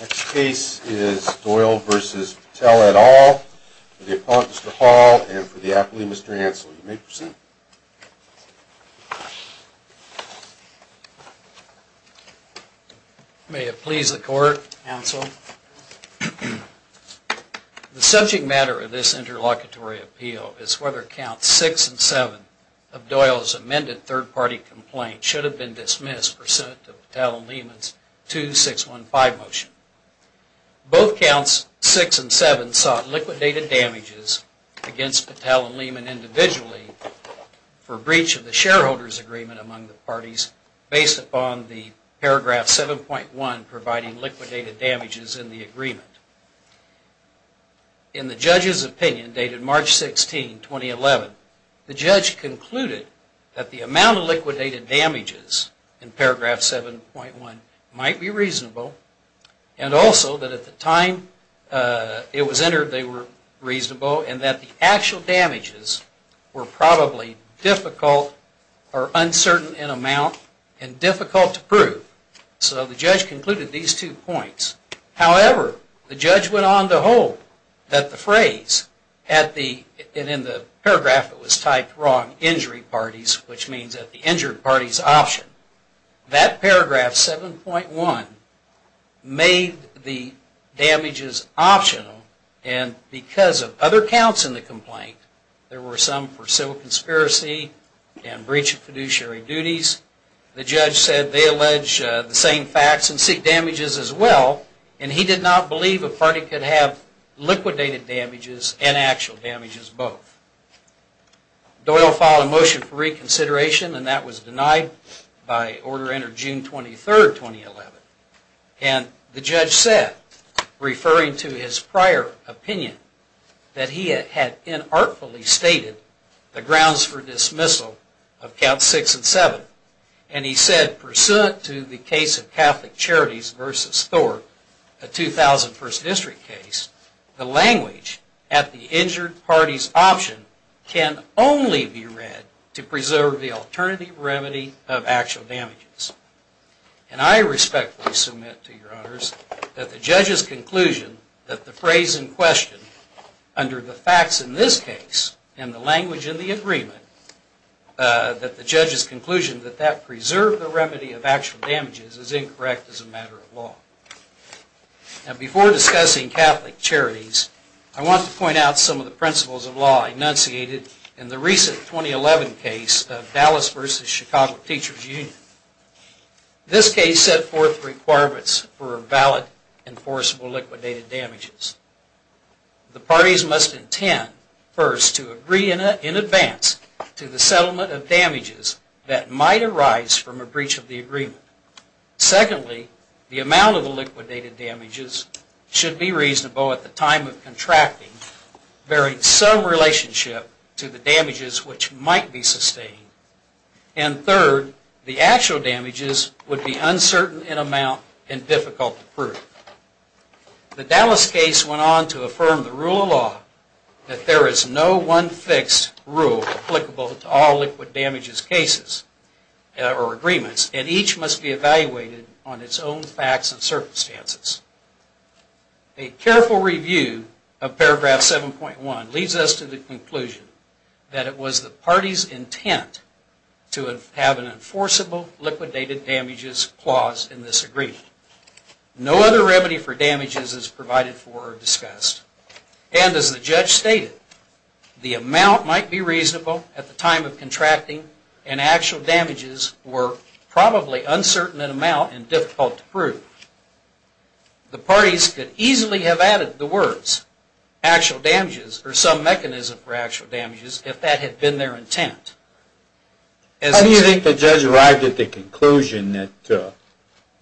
Next case is Doyle v. Patel et al. for the Appellant, Mr. Hall, and for the Appellee, Mr. Hansel. You may present. May it please the Court, Hansel. The subject matter of this interlocutory appeal is whether Counts 6 and 7 of Doyle's amended third party complaint should have been dismissed Patel and Lehman's 2-6-1-5 motion. Both Counts 6 and 7 sought liquidated damages against Patel and Lehman individually for breach of the shareholders' agreement among the parties based upon the paragraph 7.1 providing liquidated damages in the agreement. In the judge's opinion dated March 16, 2011, the judge concluded that the amount of liquidated damages in paragraph 7.1 might be reasonable and also that at the time it was entered they were reasonable and that the actual damages were probably difficult or uncertain in amount and difficult to prove. So the judge concluded these two points. However, the judge went on to hold that the phrase, and in the paragraph it was typed wrong, injury parties, which means that the injured party's option, that paragraph 7.1 made the damages optional and because of other counts in the complaint, there were some for civil conspiracy and breach of fiduciary duties. The judge said they allege the same facts and seek damages as well and he did not believe a party could have liquidated damages and actual damages both. Doyle filed a motion for reconsideration and that was denied by order entered June 23, 2011. And the judge said, referring to his prior opinion, that he had inartfully stated the grounds for dismissal of counts 6 and 7. And he said, pursuant to the case of Catholic Charities v. Thorpe, a 2001st district case, the language at the injured party's option can only be read to preserve the alternative remedy of actual damages. And I respectfully submit to your honors that the judge's conclusion that the phrase in question, under the facts in this case and the language in the agreement, that the judge's conclusion that that preserved the remedy of actual damages is incorrect as a matter of law. Now before discussing Catholic Charities, I want to point out some of the principles of law enunciated in the recent 2011 case of Dallas v. Chicago Teachers Union. This case set forth requirements for valid enforceable liquidated damages. The parties must intend, first, to agree in advance to the settlement of damages that might arise from a breach of the agreement. Secondly, the amount of liquidated damages should be reasonable at the time of contracting bearing some relationship to the actual damages would be uncertain in amount and difficult to prove. The Dallas case went on to affirm the rule of law that there is no one fixed rule applicable to all liquid damages cases or agreements and each must be evaluated on its own facts and circumstances. A careful review of paragraph 7.1 leads us to the conclusion that it was the enforceable liquidated damages clause in this agreement. No other remedy for damages is provided for or discussed. And as the judge stated, the amount might be reasonable at the time of contracting and actual damages were probably uncertain in amount and difficult to prove. The parties could easily have added the words actual damages or some mechanism for actual damages if that had been their intent. How do you think the judge arrived at the conclusion that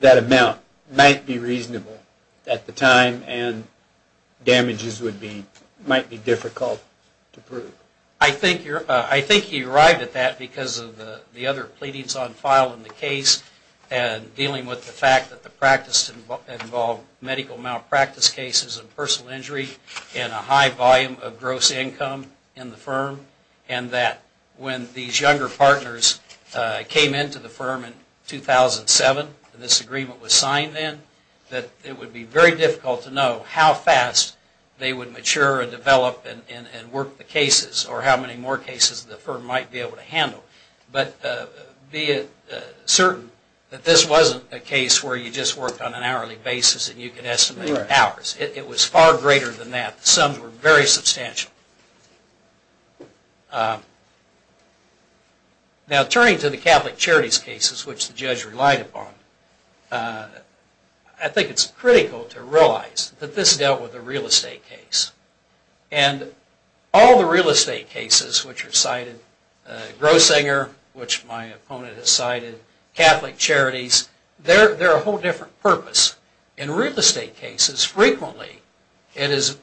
that amount might be reasonable at the time and damages might be difficult to prove? I think he arrived at that because of the other pleadings on file in the case and dealing with the fact that the practice involved medical malpractice cases and personal injury and a high volume of gross income in the firm and that when these younger partners came into the firm in 2007, this agreement was signed then, that it would be very difficult to know how fast they would mature and develop and work the cases or how many more cases the firm might be able to handle. But be certain that this wasn't a case where you just worked on an hourly basis and you could estimate hours. It was far greater than that. The sums were very substantial. Now turning to the Catholic Charities cases which the judge relied upon, I think it's critical to realize that this dealt with a real estate case. And all the real estate cases which are cited, Grossinger which my opponent has cited, Catholic Charities, they're a whole different purpose. In real estate cases, frequently it is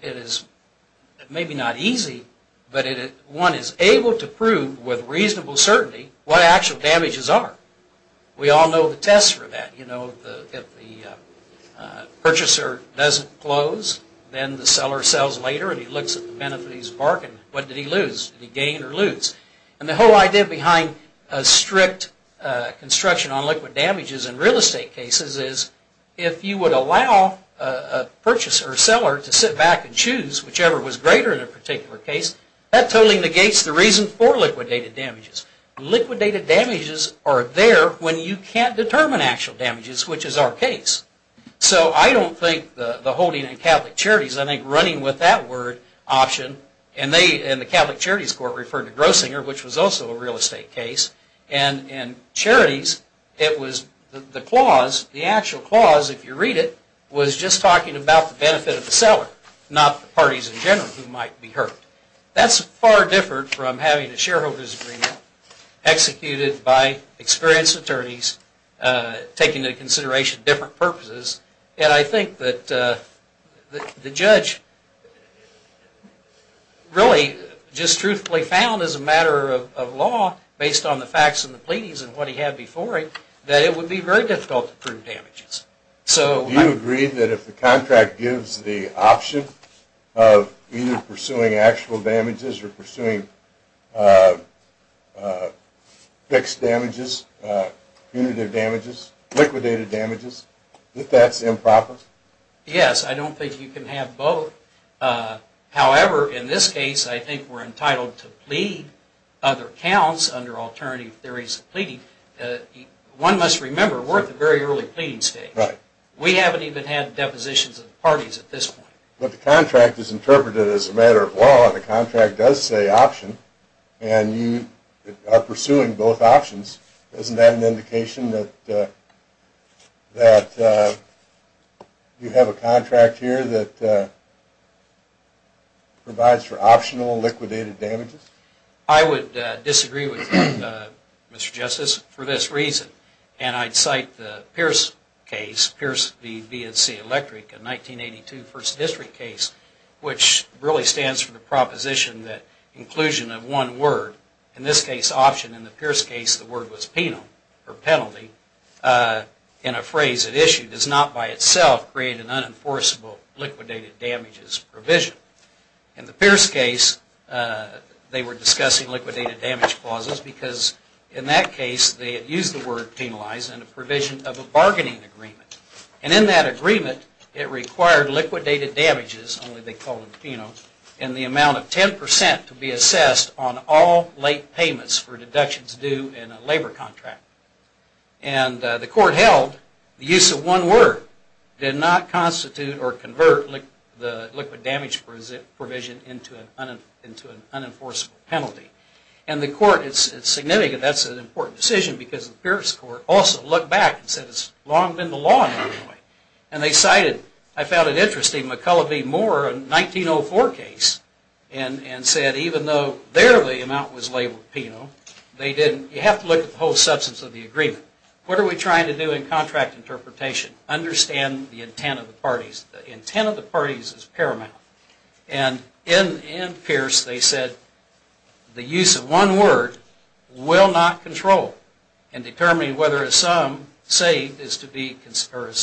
maybe not easy, but one is able to prove with reasonable certainty what actual damages are. We all know the test for that. You know if the purchaser doesn't close, then the seller sells later and he looks at the benefit of his bargain. What did he lose? Did he gain or lose? And the whole idea behind strict construction on liquid damages in real estate cases is if you would allow a purchaser or seller to sit back and choose whichever was greater in a particular case, that totally negates the reason for liquidated damages. Liquidated damages are there when you can't determine actual damages, which is our case. So I don't think the holding in Catholic Charities, I think running with that word option, and the Catholic Charities Court referred to Grossinger which was also a real estate case, and in Charities it was the clause, the actual clause if you read it, was just talking about the benefit of the seller, not the parties in general who might be hurt. That's far different from having a shareholder's agreement executed by experienced attorneys taking into consideration different purposes. And I think that the judge really just truthfully found as a matter of law, based on the facts and the pleadings and what he had before it, that it would be very difficult to prove damages. Do you agree that if the contract gives the option of either pursuing actual damages or pursuing fixed damages, punitive damages, liquidated damages, that that's improper? Yes, I don't think you can have both. However, in this case I think we're entitled to plead other counts under alternative theories of pleading. One must remember we're at the very early pleading stage. We haven't even had depositions of the parties at this point. But the contract is interpreted as a matter of law. The contract does say option, and you are pursuing both options. Isn't that an indication that you have a contract here that provides for optional liquidated damages? I would disagree with that, Mr. Justice, for this reason. And I'd cite the Pierce case, Pierce v. VNC Electric, a 1982 First District case, which really stands for the proposition that inclusion of one word, in this case option, in the Pierce case the word was penal, or penalty, in a phrase at issue does not by itself create an unenforceable liquidated damages provision. In the Pierce case they were discussing liquidated damage clauses because in that case they had used the word penalize in a provision of a bargaining agreement. And in that agreement it required liquidated damages, only they called it penal, in the amount of 10% to be assessed on all late payments for deductions due in a labor contract. And the court held the use of one word did not constitute or convert the liquidated damage provision into an unenforceable penalty. And the court, it's significant, that's an important decision because the Pierce court also looked back and said it's long been the law in Illinois. And they cited, I found it interesting, McCullough v. Moore, a 1904 case, and said even though there the amount was labeled penal, you have to look at the whole substance of the agreement. What are we trying to do in contract interpretation? Understand the intent of the parties. The intent of the parties is paramount. And in Pierce they said the use of one word will not control in determining whether a sum named is to be considered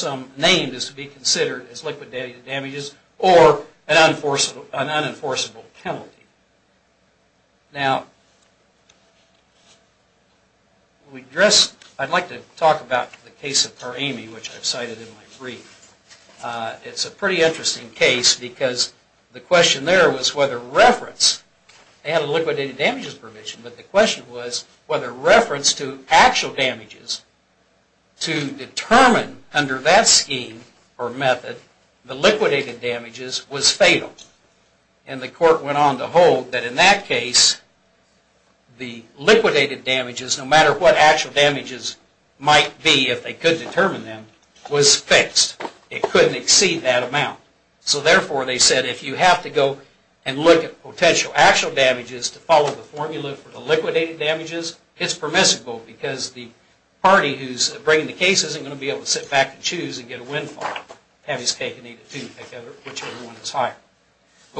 as liquidated damages or an unenforceable penalty. Now, I'd like to talk about the case of Paramy, which I've cited in my brief. It's a pretty interesting case because the question there was whether reference, they had a liquidated damages provision, but the question was whether reference to actual damages to determine under that scheme or method the liquidated damages was fatal. And the court went on to hold that in that case the liquidated damages, no matter what actual damages might be if they could determine them, was fixed. It couldn't exceed that amount. So therefore they said if you have to go and look at potential actual damages to follow the formula for the liquidated damages, it's permissible because the party who's bringing the case isn't going to be able to sit back and choose and get a windfall. But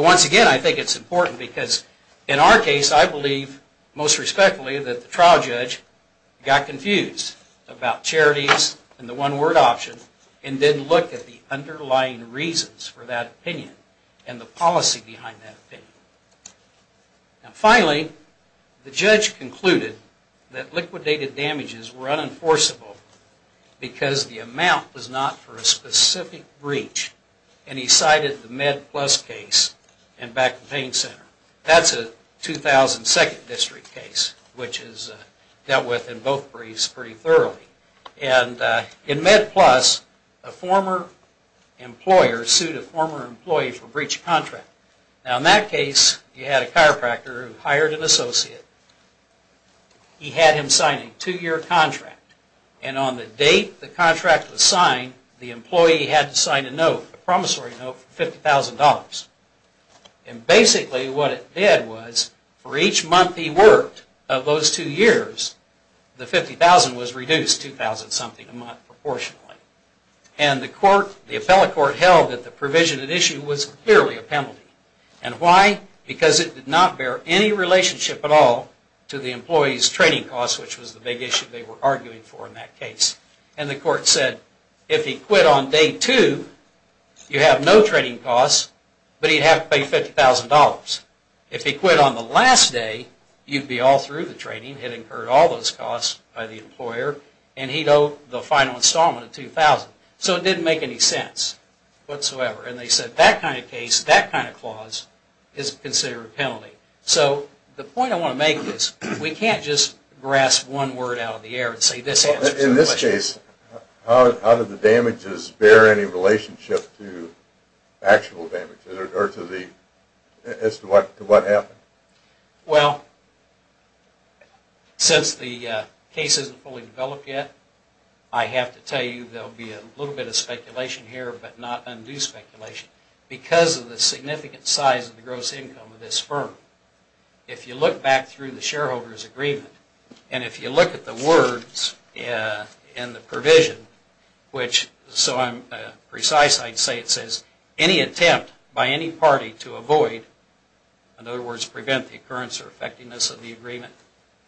once again I think it's important because in our case I believe most respectfully that the trial judge got confused about charities and the one word option and didn't look at the underlying reasons for that opinion and the policy behind that opinion. Now finally, the judge concluded that liquidated damages were unenforceable because the amount was not for a specific breach. And he cited the Med Plus case in Back to Paying Center. That's a 2002 district case, which is dealt with in both briefs pretty thoroughly. And in Med Plus, a former employer sued a former employee for breach of contract. Now in that case you had a chiropractor who hired an associate. He had him sign a two-year contract. And on the date the contract was signed, the employee had to sign a note, a promissory note for $50,000. And basically what it did was for each month he worked of those two years, the $50,000 was reduced 2,000 something a month proportionally. And the appellate court held that the provision at issue was clearly a penalty. And why? Because it did not bear any relationship at all to the employee's training costs, which was the big issue they were arguing for in that case. And the court said if he quit on day two, you have no training costs, but he'd have to pay $50,000. If he quit on the last day, you'd be all through the training. He'd incurred all those costs by the employer, and he'd owe the final installment of $2,000. So it didn't make any sense whatsoever. And they said that kind of case, that kind of clause, is considered a penalty. So the point I want to make is we can't just grasp one word out of the air and say this answers the question. In this case, how did the damages bear any relationship to actual damage, as to what happened? Well, since the case isn't fully developed yet, I have to tell you there'll be a little bit of speculation here, but not undue speculation. Because of the significant size of the gross income of this firm, if you look back through the shareholder's agreement, and if you look at the words in the provision, which so I'm precise, I'd say it says, any attempt by any party to avoid, in other words, prevent the occurrence or effectiveness of the agreement.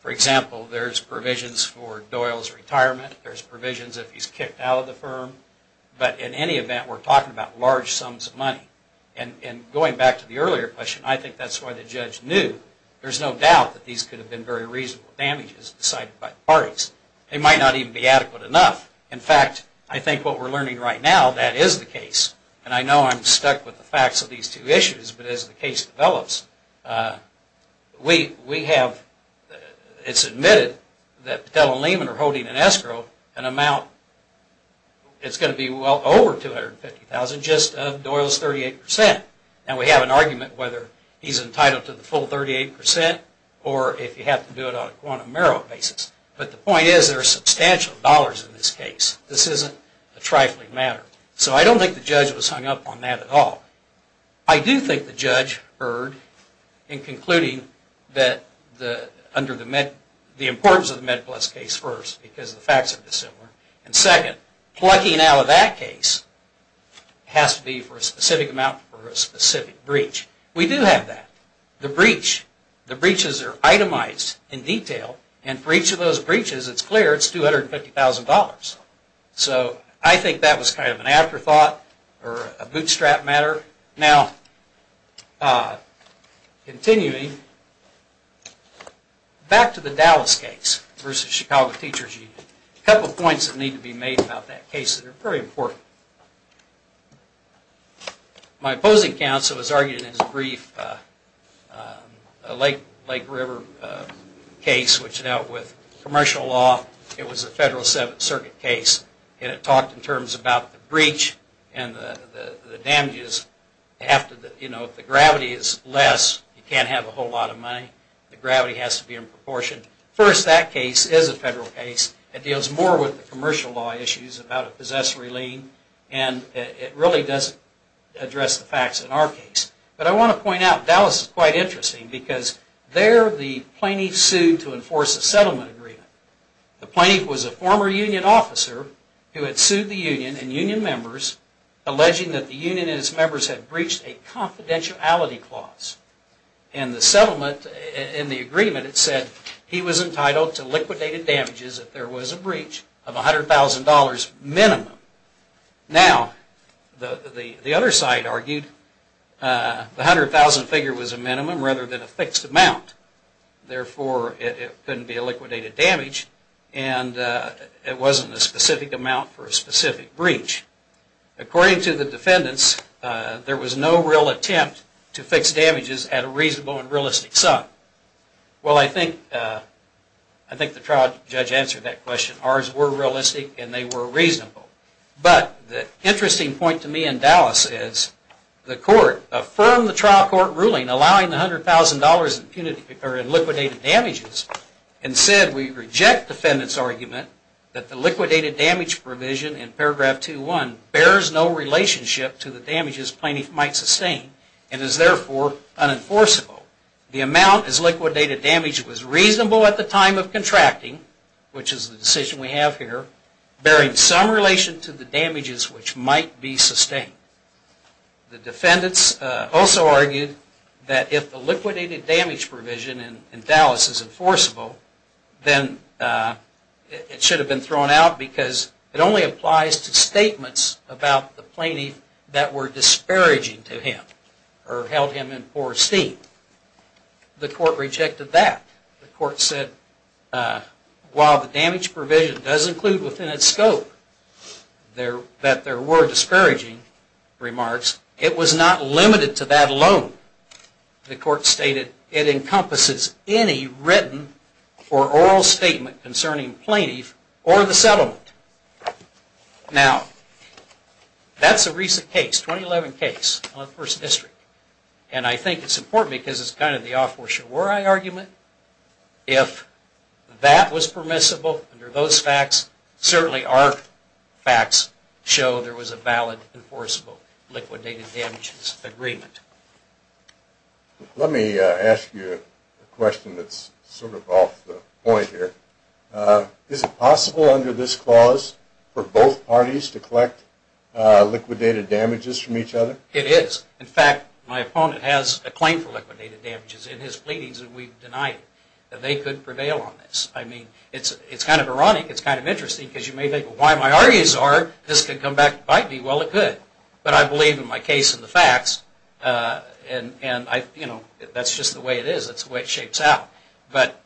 For example, there's provisions for Doyle's retirement. There's provisions if he's kicked out of the firm. But in any event, we're talking about large sums of money. And going back to the earlier question, I think that's why the judge knew. There's no doubt that these could have been very reasonable damages decided by the parties. They might not even be adequate enough. In fact, I think what we're learning right now, that is the case. And I know I'm stuck with the facts of these two issues, but as the case develops, we have, it's admitted that Patella and Lehman are holding an escrow an amount, it's going to be well over $250,000 just of Doyle's 38%. And we have an argument whether he's entitled to the full 38% or if you have to do it on a quantum narrow basis. But the point is there are substantial dollars in this case. This isn't a trifling matter. So I don't think the judge was hung up on that at all. I do think the judge erred in concluding that under the importance of the Med Plus case first, because the facts are dissimilar. And second, plugging out of that case has to be for a specific amount for a specific breach. We do have that. The breaches are itemized in detail. And for each of those breaches, it's clear it's $250,000. So I think that was kind of an afterthought or a bootstrap matter. Now, continuing, back to the Dallas case versus Chicago Teachers Union. A couple of points that need to be made about that case that are very important. My opposing counsel has argued in his brief a Lake River case which dealt with commercial law. It was a Federal Seventh Circuit case. And it talked in terms about the breach and the damages. You know, if the gravity is less, you can't have a whole lot of money. The gravity has to be in proportion. First, that case is a federal case. It deals more with the commercial law issues about a possessory lien. And it really doesn't address the facts in our case. But I want to point out Dallas is quite interesting because there the plaintiffs sued to enforce a settlement agreement. The plaintiff was a former union officer who had sued the union and union members alleging that the union and its members had breached a confidentiality clause. And the settlement in the agreement, it said he was entitled to liquidated damages if there was a breach of $100,000 minimum. Now, the other side argued the $100,000 figure was a minimum rather than a fixed amount. Therefore, it couldn't be a liquidated damage. And it wasn't a specific amount for a specific breach. According to the defendants, there was no real attempt to fix damages at a reasonable and realistic sum. Well, I think the trial judge answered that question. Ours were realistic and they were reasonable. But the interesting point to me in Dallas is the court affirmed the trial court ruling in allowing the $100,000 in liquidated damages. Instead, we reject defendants' argument that the liquidated damage provision in paragraph 2.1 bears no relationship to the damages plaintiff might sustain and is therefore unenforceable. The amount as liquidated damage was reasonable at the time of contracting, which is the decision we have here, bearing some relation to the damages which might be sustained. The defendants also argued that if the liquidated damage provision in Dallas is enforceable, then it should have been thrown out because it only applies to statements about the plaintiff that were disparaging to him or held him in poor esteem. The court rejected that. The court said while the damage provision does include within its scope that there were disparaging remarks, it was not limited to that alone. The court stated it encompasses any written or oral statement concerning plaintiff or the settlement. Now, that's a recent case, 2011 case, on the 1st District. And I think it's important because it's kind of the offshore war eye argument. If that was permissible under those facts, certainly our facts show there was a valid enforceable liquidated damages agreement. Let me ask you a question that's sort of off the point here. Is it possible under this clause for both parties to collect liquidated damages from each other? It is. In fact, my opponent has a claim for liquidated damages in his pleadings, and we've denied that they could prevail on this. I mean, it's kind of ironic, it's kind of interesting, because you may think, well, why my arguments are this could come back to bite me? Well, it could. But I believe in my case and the facts, and that's just the way it is. That's the way it shapes out. But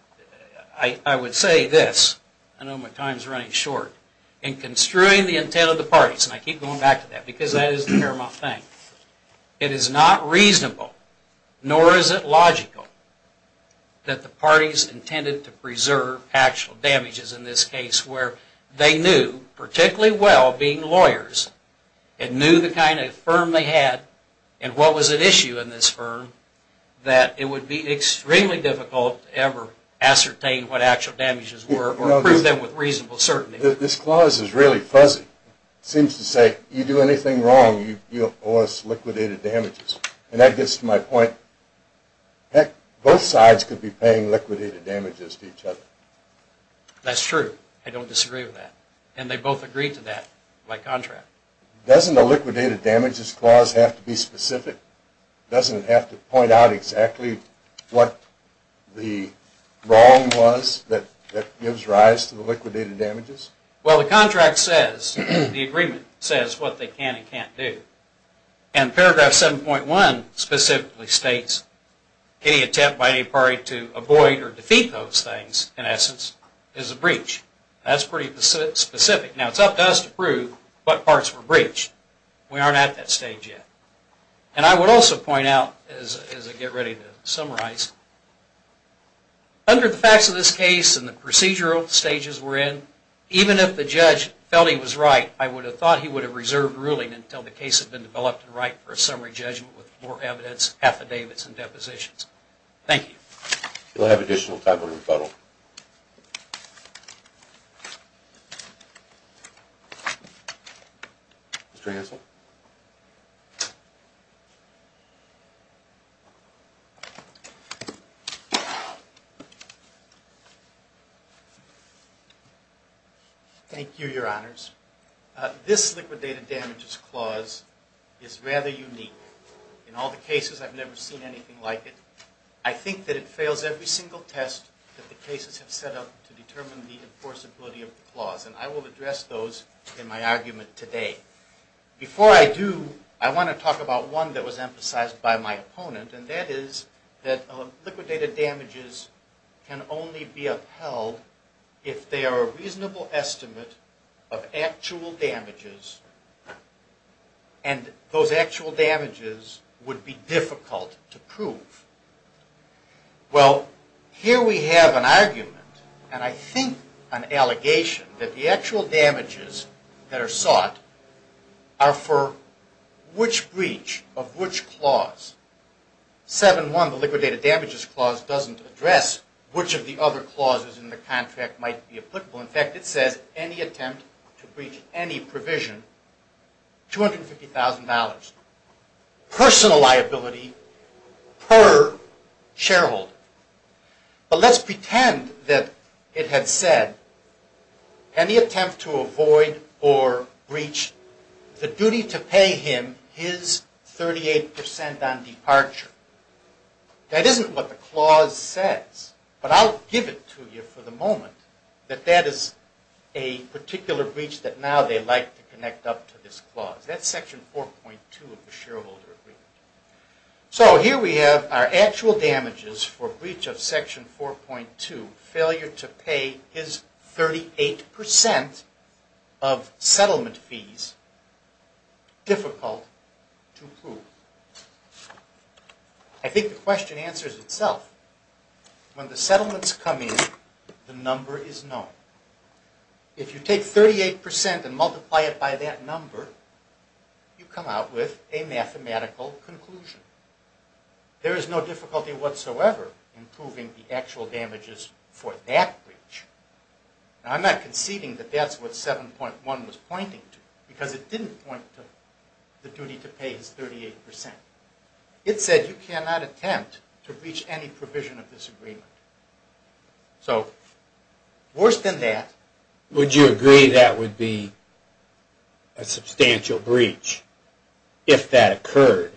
I would say this. I know my time's running short. In construing the intent of the parties, and I keep going back to that because that is the paramount thing, it is not reasonable, nor is it logical, that the parties intended to preserve actual damages in this case where they knew particularly well, being lawyers, and knew the kind of firm they had and what was at issue in this firm, that it would be extremely difficult to ever ascertain what actual damages were or prove them with reasonable certainty. This clause is really fuzzy. It seems to say, you do anything wrong, you'll cause liquidated damages. And that gets to my point. Heck, both sides could be paying liquidated damages to each other. That's true. I don't disagree with that. And they both agreed to that by contract. Doesn't the liquidated damages clause have to be specific? Doesn't it have to point out exactly what the wrong was that gives rise to the liquidated damages? Well, the contract says, the agreement says, what they can and can't do. And paragraph 7.1 specifically states, any attempt by any party to avoid or defeat those things, in essence, is a breach. That's pretty specific. Now, it's up to us to prove what parts were breached. We aren't at that stage yet. And I would also point out, as I get ready to summarize, under the facts of this case and the procedural stages we're in, even if the judge felt he was right, I would have thought he would have reserved ruling until the case had been developed and right for a summary judgment with more evidence, affidavits, and depositions. Thank you. We'll have additional time for rebuttal. Mr. Hansel? Thank you, Your Honors. This liquidated damages clause is rather unique. In all the cases, I've never seen anything like it. I think that it fails every single test that the cases have set up to determine the enforceability of the clause. And I will address those in my argument today. Before I do, I want to talk about one that was emphasized by my opponent, and that is that liquidated damages can only be upheld if they are a reasonable estimate of actual damages, and those actual damages would be difficult to prove. Well, here we have an argument, and I think an allegation, that the actual damages that are sought are for which breach of which clause. 7-1, the liquidated damages clause, doesn't address which of the other clauses in the contract might be applicable. In fact, it says any attempt to breach any provision, $250,000. Personal liability per shareholder. But let's pretend that it had said any attempt to avoid or breach the duty to pay him his 38% on departure. That isn't what the clause says, but I'll give it to you for the moment, that that is a particular breach that now they'd like to connect up to this clause. That's section 4.2 of the shareholder agreement. So here we have our actual damages for breach of section 4.2, failure to pay his 38% of settlement fees, difficult to prove. I think the question answers itself. When the settlements come in, the number is known. If you take 38% and multiply it by that number, you come out with a mathematical conclusion. There is no difficulty whatsoever in proving the actual damages for that breach. Now, I'm not conceding that that's what 7.1 was pointing to, because it didn't point to the duty to pay his 38%. It said you cannot attempt to breach any provision of this agreement. So, worse than that... Would you agree that would be a substantial breach if that occurred,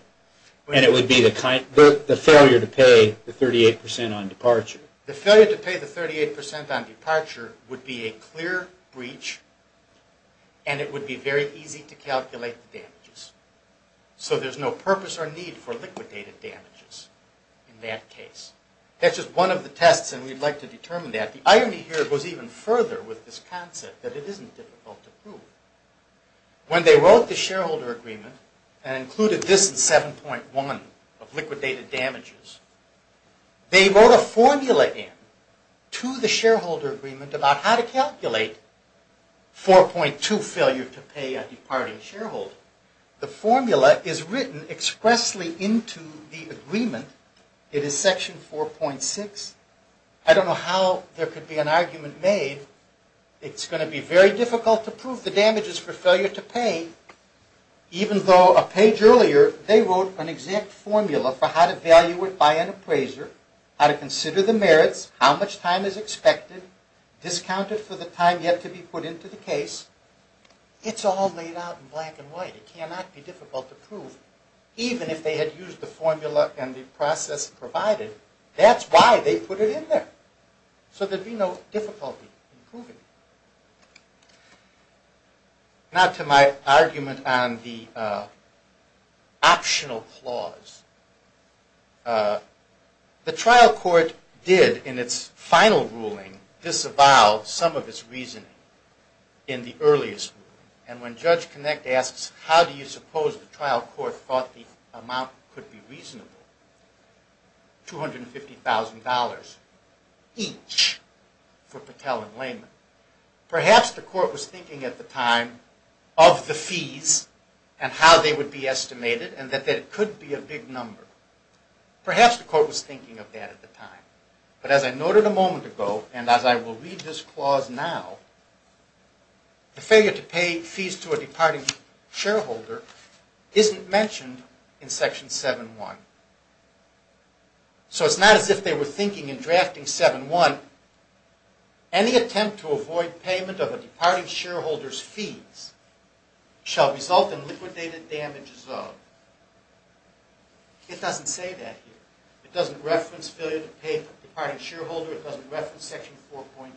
and it would be the failure to pay the 38% on departure? The failure to pay the 38% on departure would be a clear breach, and it would be very easy to calculate the damages. So there's no purpose or need for liquidated damages in that case. That's just one of the tests, and we'd like to determine that. The irony here goes even further with this concept that it isn't difficult to prove. When they wrote the shareholder agreement and included this in 7.1 of liquidated damages, they wrote a formula in to the shareholder agreement about how to calculate 4.2, failure to pay a departing shareholder. The formula is written expressly in to the agreement. It is section 4.6. I don't know how there could be an argument made. It's going to be very difficult to prove the damages for failure to pay, even though a page earlier they wrote an exact formula for how to value it by an appraiser, how to consider the merits, how much time is expected, discounted for the time yet to be put in to the case. It's all laid out in black and white. It cannot be difficult to prove, even if they had used the formula and the process provided. That's why they put it in there, so there'd be no difficulty in proving it. Now to my argument on the optional clause. The trial court did in its final ruling disavow some of its reasoning in the earliest ruling. And when Judge Kinect asks, how do you suppose the trial court thought the amount could be reasonable, $250,000 each for Patel and Lehman, perhaps the court was thinking at the time of the fees and how they would be estimated and that it could be a big number. Perhaps the court was thinking of that at the time. But as I noted a moment ago, and as I will read this clause now, the failure to pay fees to a departing shareholder isn't mentioned in Section 7-1. So it's not as if they were thinking in drafting 7-1, any attempt to avoid payment of a departing shareholder's fees shall result in liquidated damages of. It doesn't say that here. It doesn't reference failure to pay a departing shareholder. It doesn't reference Section 4.2.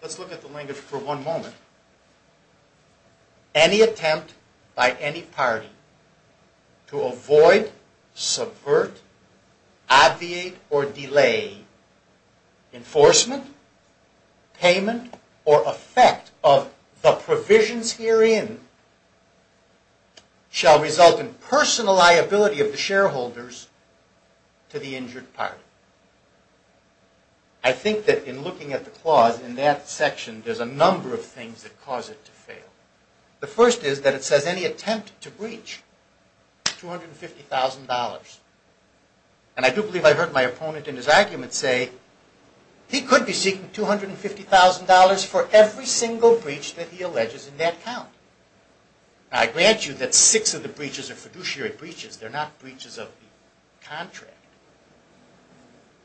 Let's look at the language for one moment. Any attempt by any party to avoid, subvert, abviate, or delay enforcement, payment, or effect of the provisions herein shall result in personal liability of the shareholders to the injured party. I think that in looking at the clause in that section, there's a number of things that cause it to fail. The first is that it says any attempt to breach $250,000. And I do believe I heard my opponent in his argument say he could be seeking $250,000 for every single breach that he alleges in that count. I grant you that six of the breaches are fiduciary breaches. They're not breaches of the contract.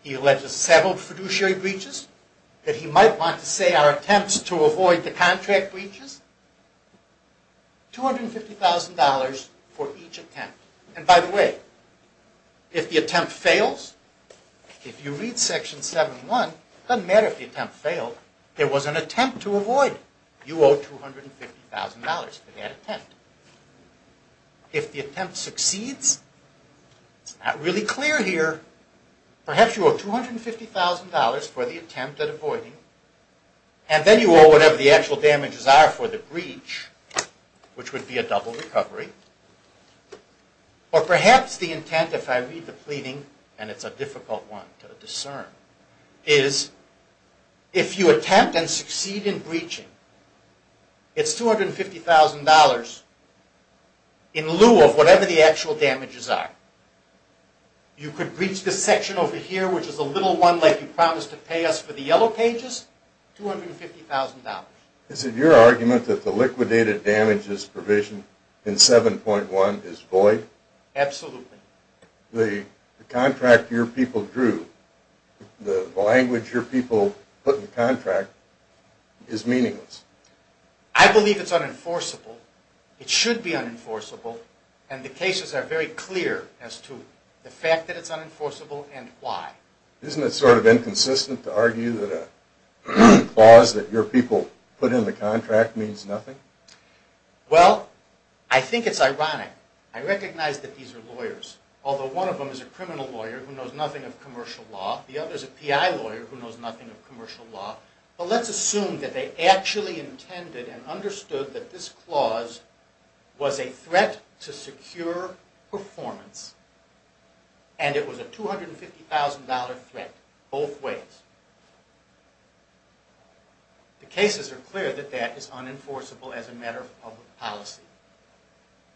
He alleges several fiduciary breaches that he might want to say are attempts to avoid the contract breaches. $250,000 for each attempt. And by the way, if the attempt fails, if you read Section 71, it doesn't matter if the attempt failed. There was an attempt to avoid. You owe $250,000 for that attempt. If the attempt succeeds, it's not really clear here. Perhaps you owe $250,000 for the attempt at avoiding, and then you owe whatever the actual damages are for the breach, which would be a double recovery. Or perhaps the intent, if I read the pleading, and it's a difficult one to discern, is if you attempt and succeed in breaching, it's $250,000 in lieu of whatever the actual damages are. You could breach this section over here, which is a little one like you promised to pay us for the yellow pages, $250,000. Is it your argument that the liquidated damages provision in 7.1 is void? Absolutely. The contract your people drew, the language your people put in the contract, is meaningless. I believe it's unenforceable. It should be unenforceable, and the cases are very clear as to the fact that it's unenforceable and why. Isn't it sort of inconsistent to argue that a clause that your people put in the contract means nothing? Well, I think it's ironic. I recognize that these are lawyers, although one of them is a criminal lawyer who knows nothing of commercial law. The other is a PI lawyer who knows nothing of commercial law. But let's assume that they actually intended and understood that this clause was a threat to secure performance, and it was a $250,000 threat both ways. The cases are clear that that is unenforceable as a matter of public policy.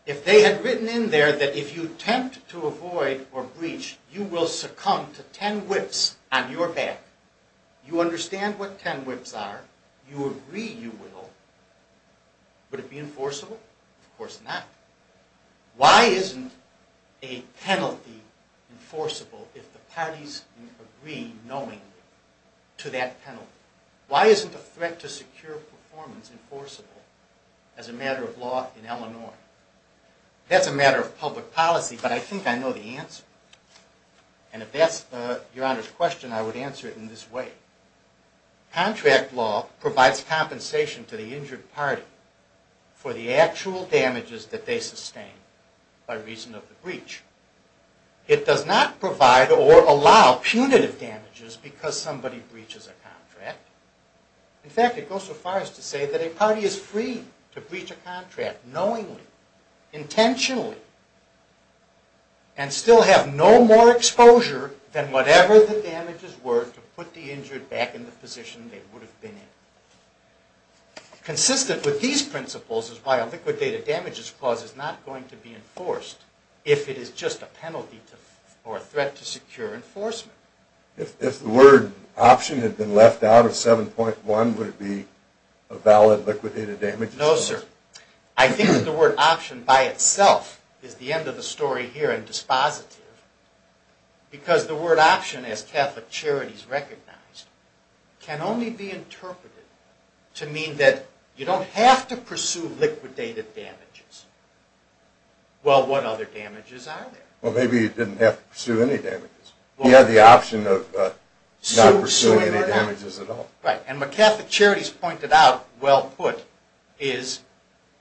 If they had written in there that if you attempt to avoid or breach, you will succumb to ten whips on your back, you understand what ten whips are, you agree you will, would it be enforceable? Of course not. Why isn't a penalty enforceable if the parties agree knowingly to that penalty? Why isn't a threat to secure performance enforceable as a matter of law in Illinois? That's a matter of public policy, but I think I know the answer. And if that's your Honor's question, I would answer it in this way. Contract law provides compensation to the injured party for the actual damages that they sustained by reason of the breach. It does not provide or allow punitive damages because somebody breaches a contract. In fact, it goes so far as to say that a party is free to breach a contract knowingly, intentionally, and still have no more exposure than whatever the damages were to put the injured back in the position they would have been in. Consistent with these principles is why a liquidated damages clause is not going to be enforced if it is just a penalty or a threat to secure enforcement. If the word option had been left out of 7.1, would it be a valid liquidated damages clause? No, sir. I think that the word option by itself is the end of the story here and dispositive because the word option, as Catholic Charities recognize, can only be interpreted to mean that you don't have to pursue liquidated damages. Well, what other damages are there? Well, maybe you didn't have to pursue any damages. You had the option of not pursuing any damages at all. Right, and what Catholic Charities pointed out, well put, is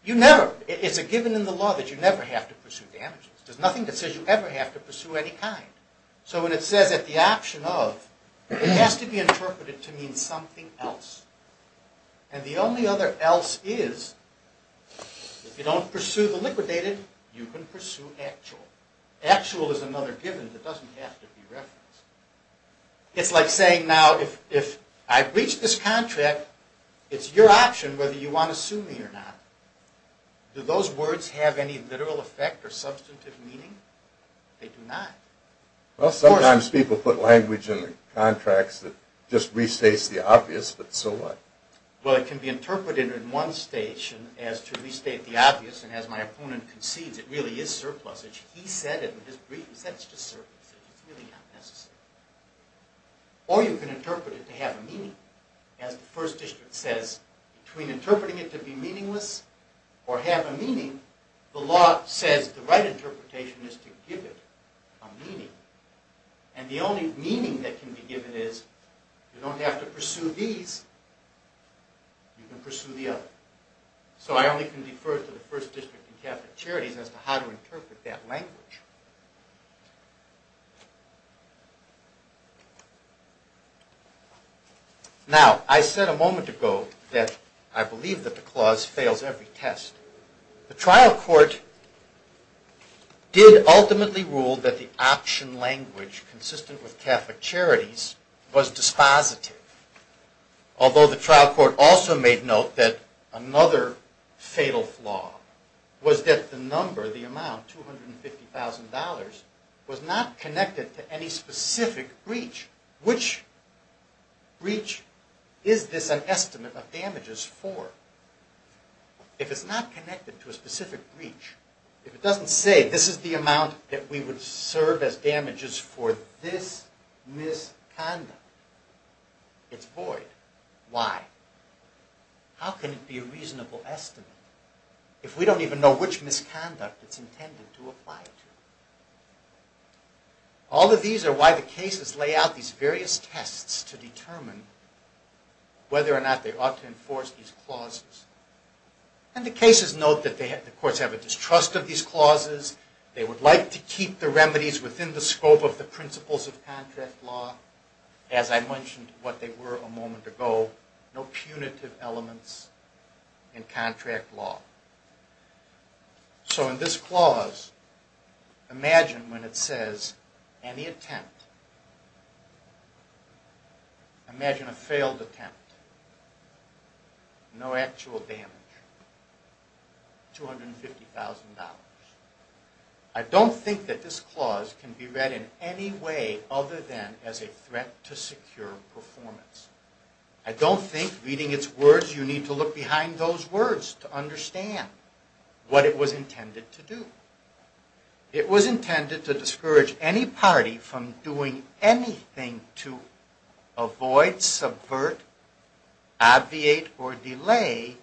it's a given in the law that you never have to pursue damages. There's nothing that says you ever have to pursue any kind. So when it says that the option of, it has to be interpreted to mean something else. And the only other else is, if you don't pursue the liquidated, you can pursue actual. Actual is another given that doesn't have to be referenced. It's like saying now, if I breach this contract, it's your option whether you want to sue me or not. Do those words have any literal effect or substantive meaning? They do not. Well, sometimes people put language in the contracts that just restates the obvious, but so what? Well, it can be interpreted in one stage as to restate the obvious, and as my opponent concedes, it really is surplusage. He said it in his brief, he said it's just surplusage. It's really not necessary. Or you can interpret it to have a meaning. As the First District says, between interpreting it to be meaningless or have a meaning, the law says the right interpretation is to give it a meaning. And the only meaning that can be given is, you don't have to pursue these, you can pursue the other. So I only can defer to the First District and Catholic Charities as to how to interpret that language. Now, I said a moment ago that I believe that the clause fails every test. The trial court did ultimately rule that the option language consistent with Catholic Charities was dispositive. Although the trial court also made note that another fatal flaw was that the number, the amount, $250,000, was not connected to any specific breach. Which breach is this an estimate of damages for? If it's not connected to a specific breach, if it doesn't say, this is the amount that we would serve as damages for this misconduct, it's void. Why? How can it be a reasonable estimate if we don't even know which misconduct it's intended to apply to? All of these are why the cases lay out these various tests to determine whether or not they ought to enforce these clauses. And the cases note that the courts have a distrust of these clauses, they would like to keep the remedies within the scope of the principles of contract law, as I mentioned what they were a moment ago, no punitive elements in contract law. So in this clause, imagine when it says any attempt, imagine a failed attempt, no actual damage, $250,000. I don't think that this clause can be read in any way other than as a threat to secure performance. I don't think reading its words you need to look behind those words to understand what it was intended to do. It was intended to discourage any party from doing anything to avoid, subvert, abviate or delay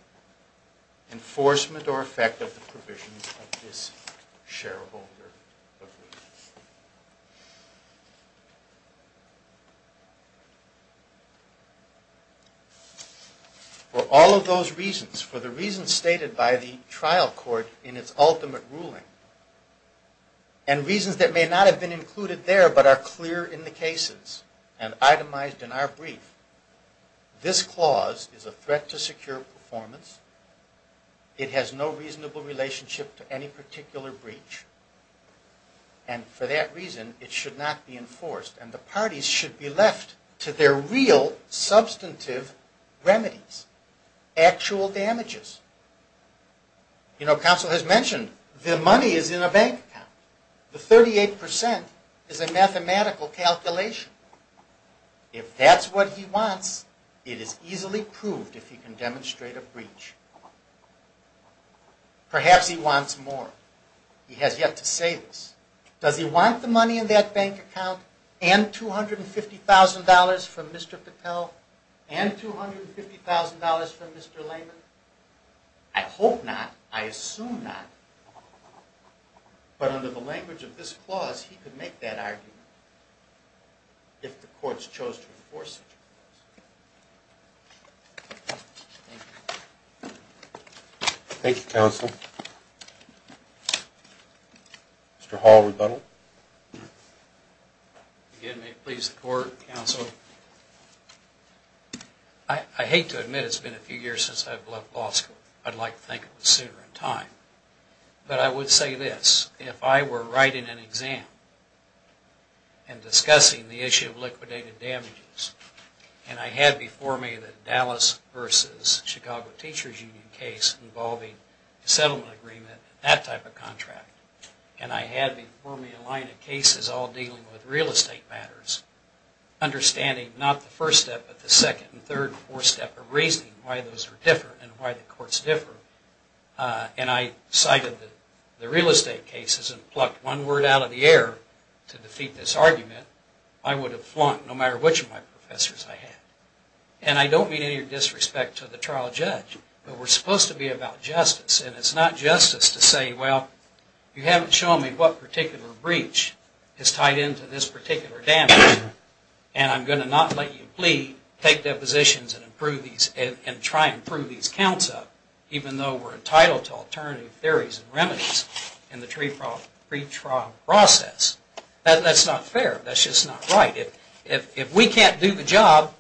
enforcement or effect of the provisions of this shareholder agreement. For all of those reasons, for the reasons stated by the trial court in its ultimate ruling, and reasons that may not have been included there but are clear in the cases, and itemized in our brief, this clause is a threat to secure performance, it has no reasonable relationship to any particular breach, and for that reason it should not be enforced. And the parties should be left to their real substantive remedies, actual damages. You know, counsel has mentioned the money is in a bank account. The 38% is a mathematical calculation. If that's what he wants, it is easily proved if he can demonstrate a breach. Perhaps he wants more. He has yet to say this. Does he want the money in that bank account and $250,000 from Mr. Patel and $250,000 from Mr. Layman? I hope not. I assume not. But under the language of this clause, he could make that argument if the courts chose to enforce it. Thank you, counsel. Mr. Hall, rebuttal. Again, may it please the court, counsel, I hate to admit it's been a few years since I've left law school. I'd like to think it was sooner in time. But I would say this. If I were writing an exam and discussing the issue of liquidated damages, and I had before me the Dallas versus Chicago Teachers Union case involving a settlement agreement, that type of contract, and I had before me a line of cases all dealing with real estate matters, understanding not the first step, but the second and third and fourth step of reasoning why those are different and why the courts differ, and I cited the real estate cases and plucked one word out of the air to defeat this argument, I would have flunked no matter which of my professors I had. And I don't mean any disrespect to the trial judge, but we're supposed to be about justice. And it's not justice to say, well, you haven't shown me what particular breach is tied into this particular damage, and I'm going to not let you plead, take depositions, and try and prove these counts up, even though we're entitled to alternative theories and remedies in the pretrial process. That's not fair. That's just not right. If we can't do the job,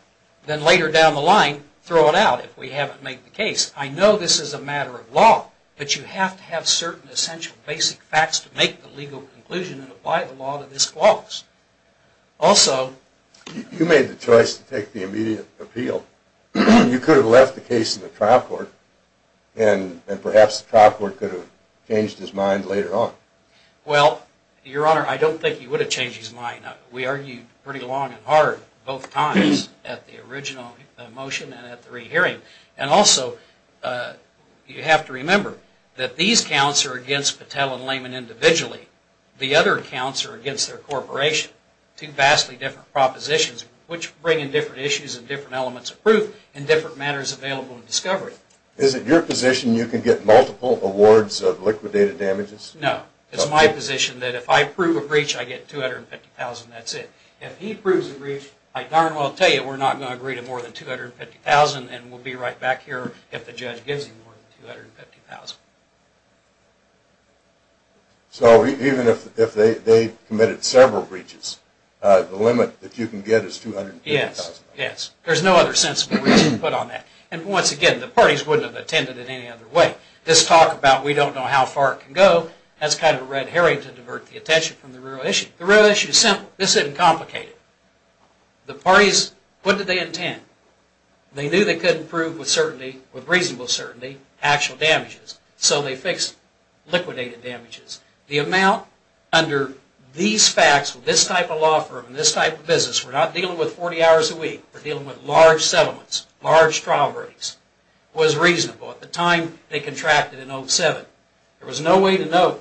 then later down the line, throw it out if we haven't made the case. I know this is a matter of law, but you have to have certain essential basic facts to make the legal conclusion and apply the law to this clause. Also... You made the choice to take the immediate appeal. You could have left the case in the trial court, and perhaps the trial court could have changed his mind later on. Well, Your Honor, I don't think he would have changed his mind. We argued pretty long and hard both times at the original motion and at the re-hearing. And also, you have to remember that these counts are against Patel and Lehman individually. The other counts are against their corporation. Two vastly different propositions, which bring in different issues and different elements of proof and different matters available in discovery. Is it your position you can get multiple awards of liquidated damages? No. It's my position that if I prove a breach, I get $250,000. That's it. If he proves a breach, I darn well tell you we're not going to agree to more than $250,000, and we'll be right back here if the judge gives him more than $250,000. So even if they committed several breaches, the limit that you can get is $250,000? Yes. Yes. There's no other sensible reason to put on that. And once again, the parties wouldn't have attended it any other way. This talk about we don't know how far it can go, that's kind of a red herring to divert the attention from the real issue. The real issue is simple. This isn't complicated. The parties, what did they intend? They knew they couldn't prove with certainty, with reasonable certainty, actual damages. So they fixed liquidated damages. The amount under these facts with this type of law firm and this type of business, we're not dealing with 40 hours a week, we're dealing with large settlements, large trial breaks, was reasonable at the time they contracted in 07. There was no way to know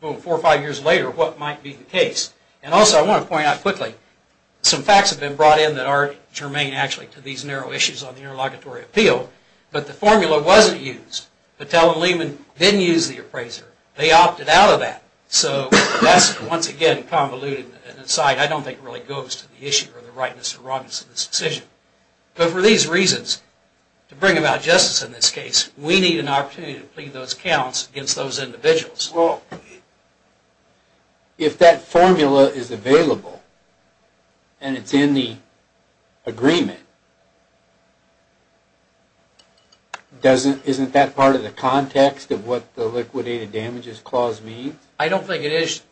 four or five years later what might be the case. And also I want to point out quickly, some facts have been brought in that are germane actually to these narrow issues on the interlocutory appeal, but the formula wasn't used. Patel and Lehman didn't use the appraiser. They opted out of that. So that's, once again, convoluted insight. I don't think it really goes to the issue or the rightness or wrongness of this decision. But for these reasons, to bring about justice in this case, we need an opportunity to plead those counts against those individuals. Well, if that formula is available and it's in the agreement, isn't that part of the context of what the liquidated damages clause means? I don't think it is,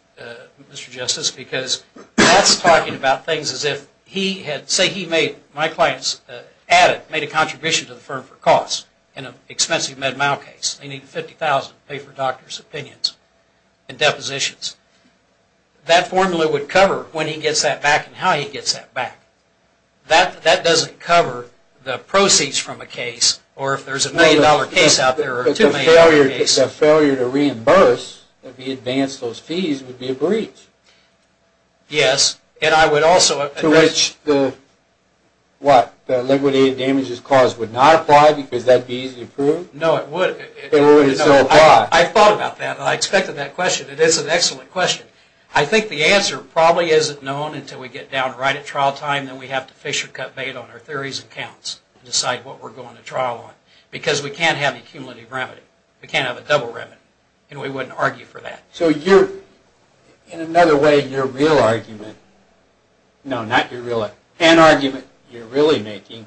Mr. Justice, because that's talking about things as if he had, say he made, my clients added, made a contribution to the firm for costs in an expensive Med-Mal case. They need $50,000 to pay for doctors' opinions and depositions. That formula would cover when he gets that back and how he gets that back. That doesn't cover the proceeds from a case or if there's a million-dollar case out there or two million-dollar case. The failure to reimburse, to advance those fees, would be a breach. Yes, and I would also... Would a breach, what, the liquidated damages clause would not apply because that would be easy to prove? No, it would. I thought about that and I expected that question. It is an excellent question. I think the answer probably isn't known until we get down right at trial time and we have to fish or cut bait on our theories and counts and decide what we're going to trial on because we can't have a cumulative remedy. We can't have a double remedy, and we wouldn't argue for that. So you're, in another way, your real argument... No, not your real argument. An argument you're really making...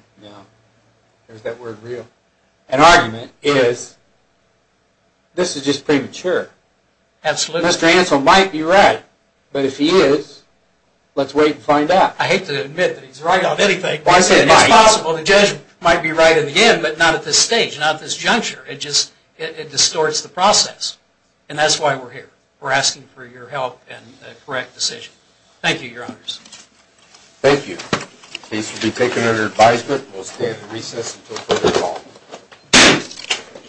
There's that word, real. An argument is this is just premature. Absolutely. Mr. Ansell might be right, but if he is, let's wait and find out. I hate to admit that he's right on anything, but it's possible the judge might be right at the end but not at this stage, not at this juncture. It just distorts the process, and that's why we're here. We're asking for your help and a correct decision. Thank you, Your Honors. Thank you. The case will be taken under advisement. We'll stay at the recess until further call.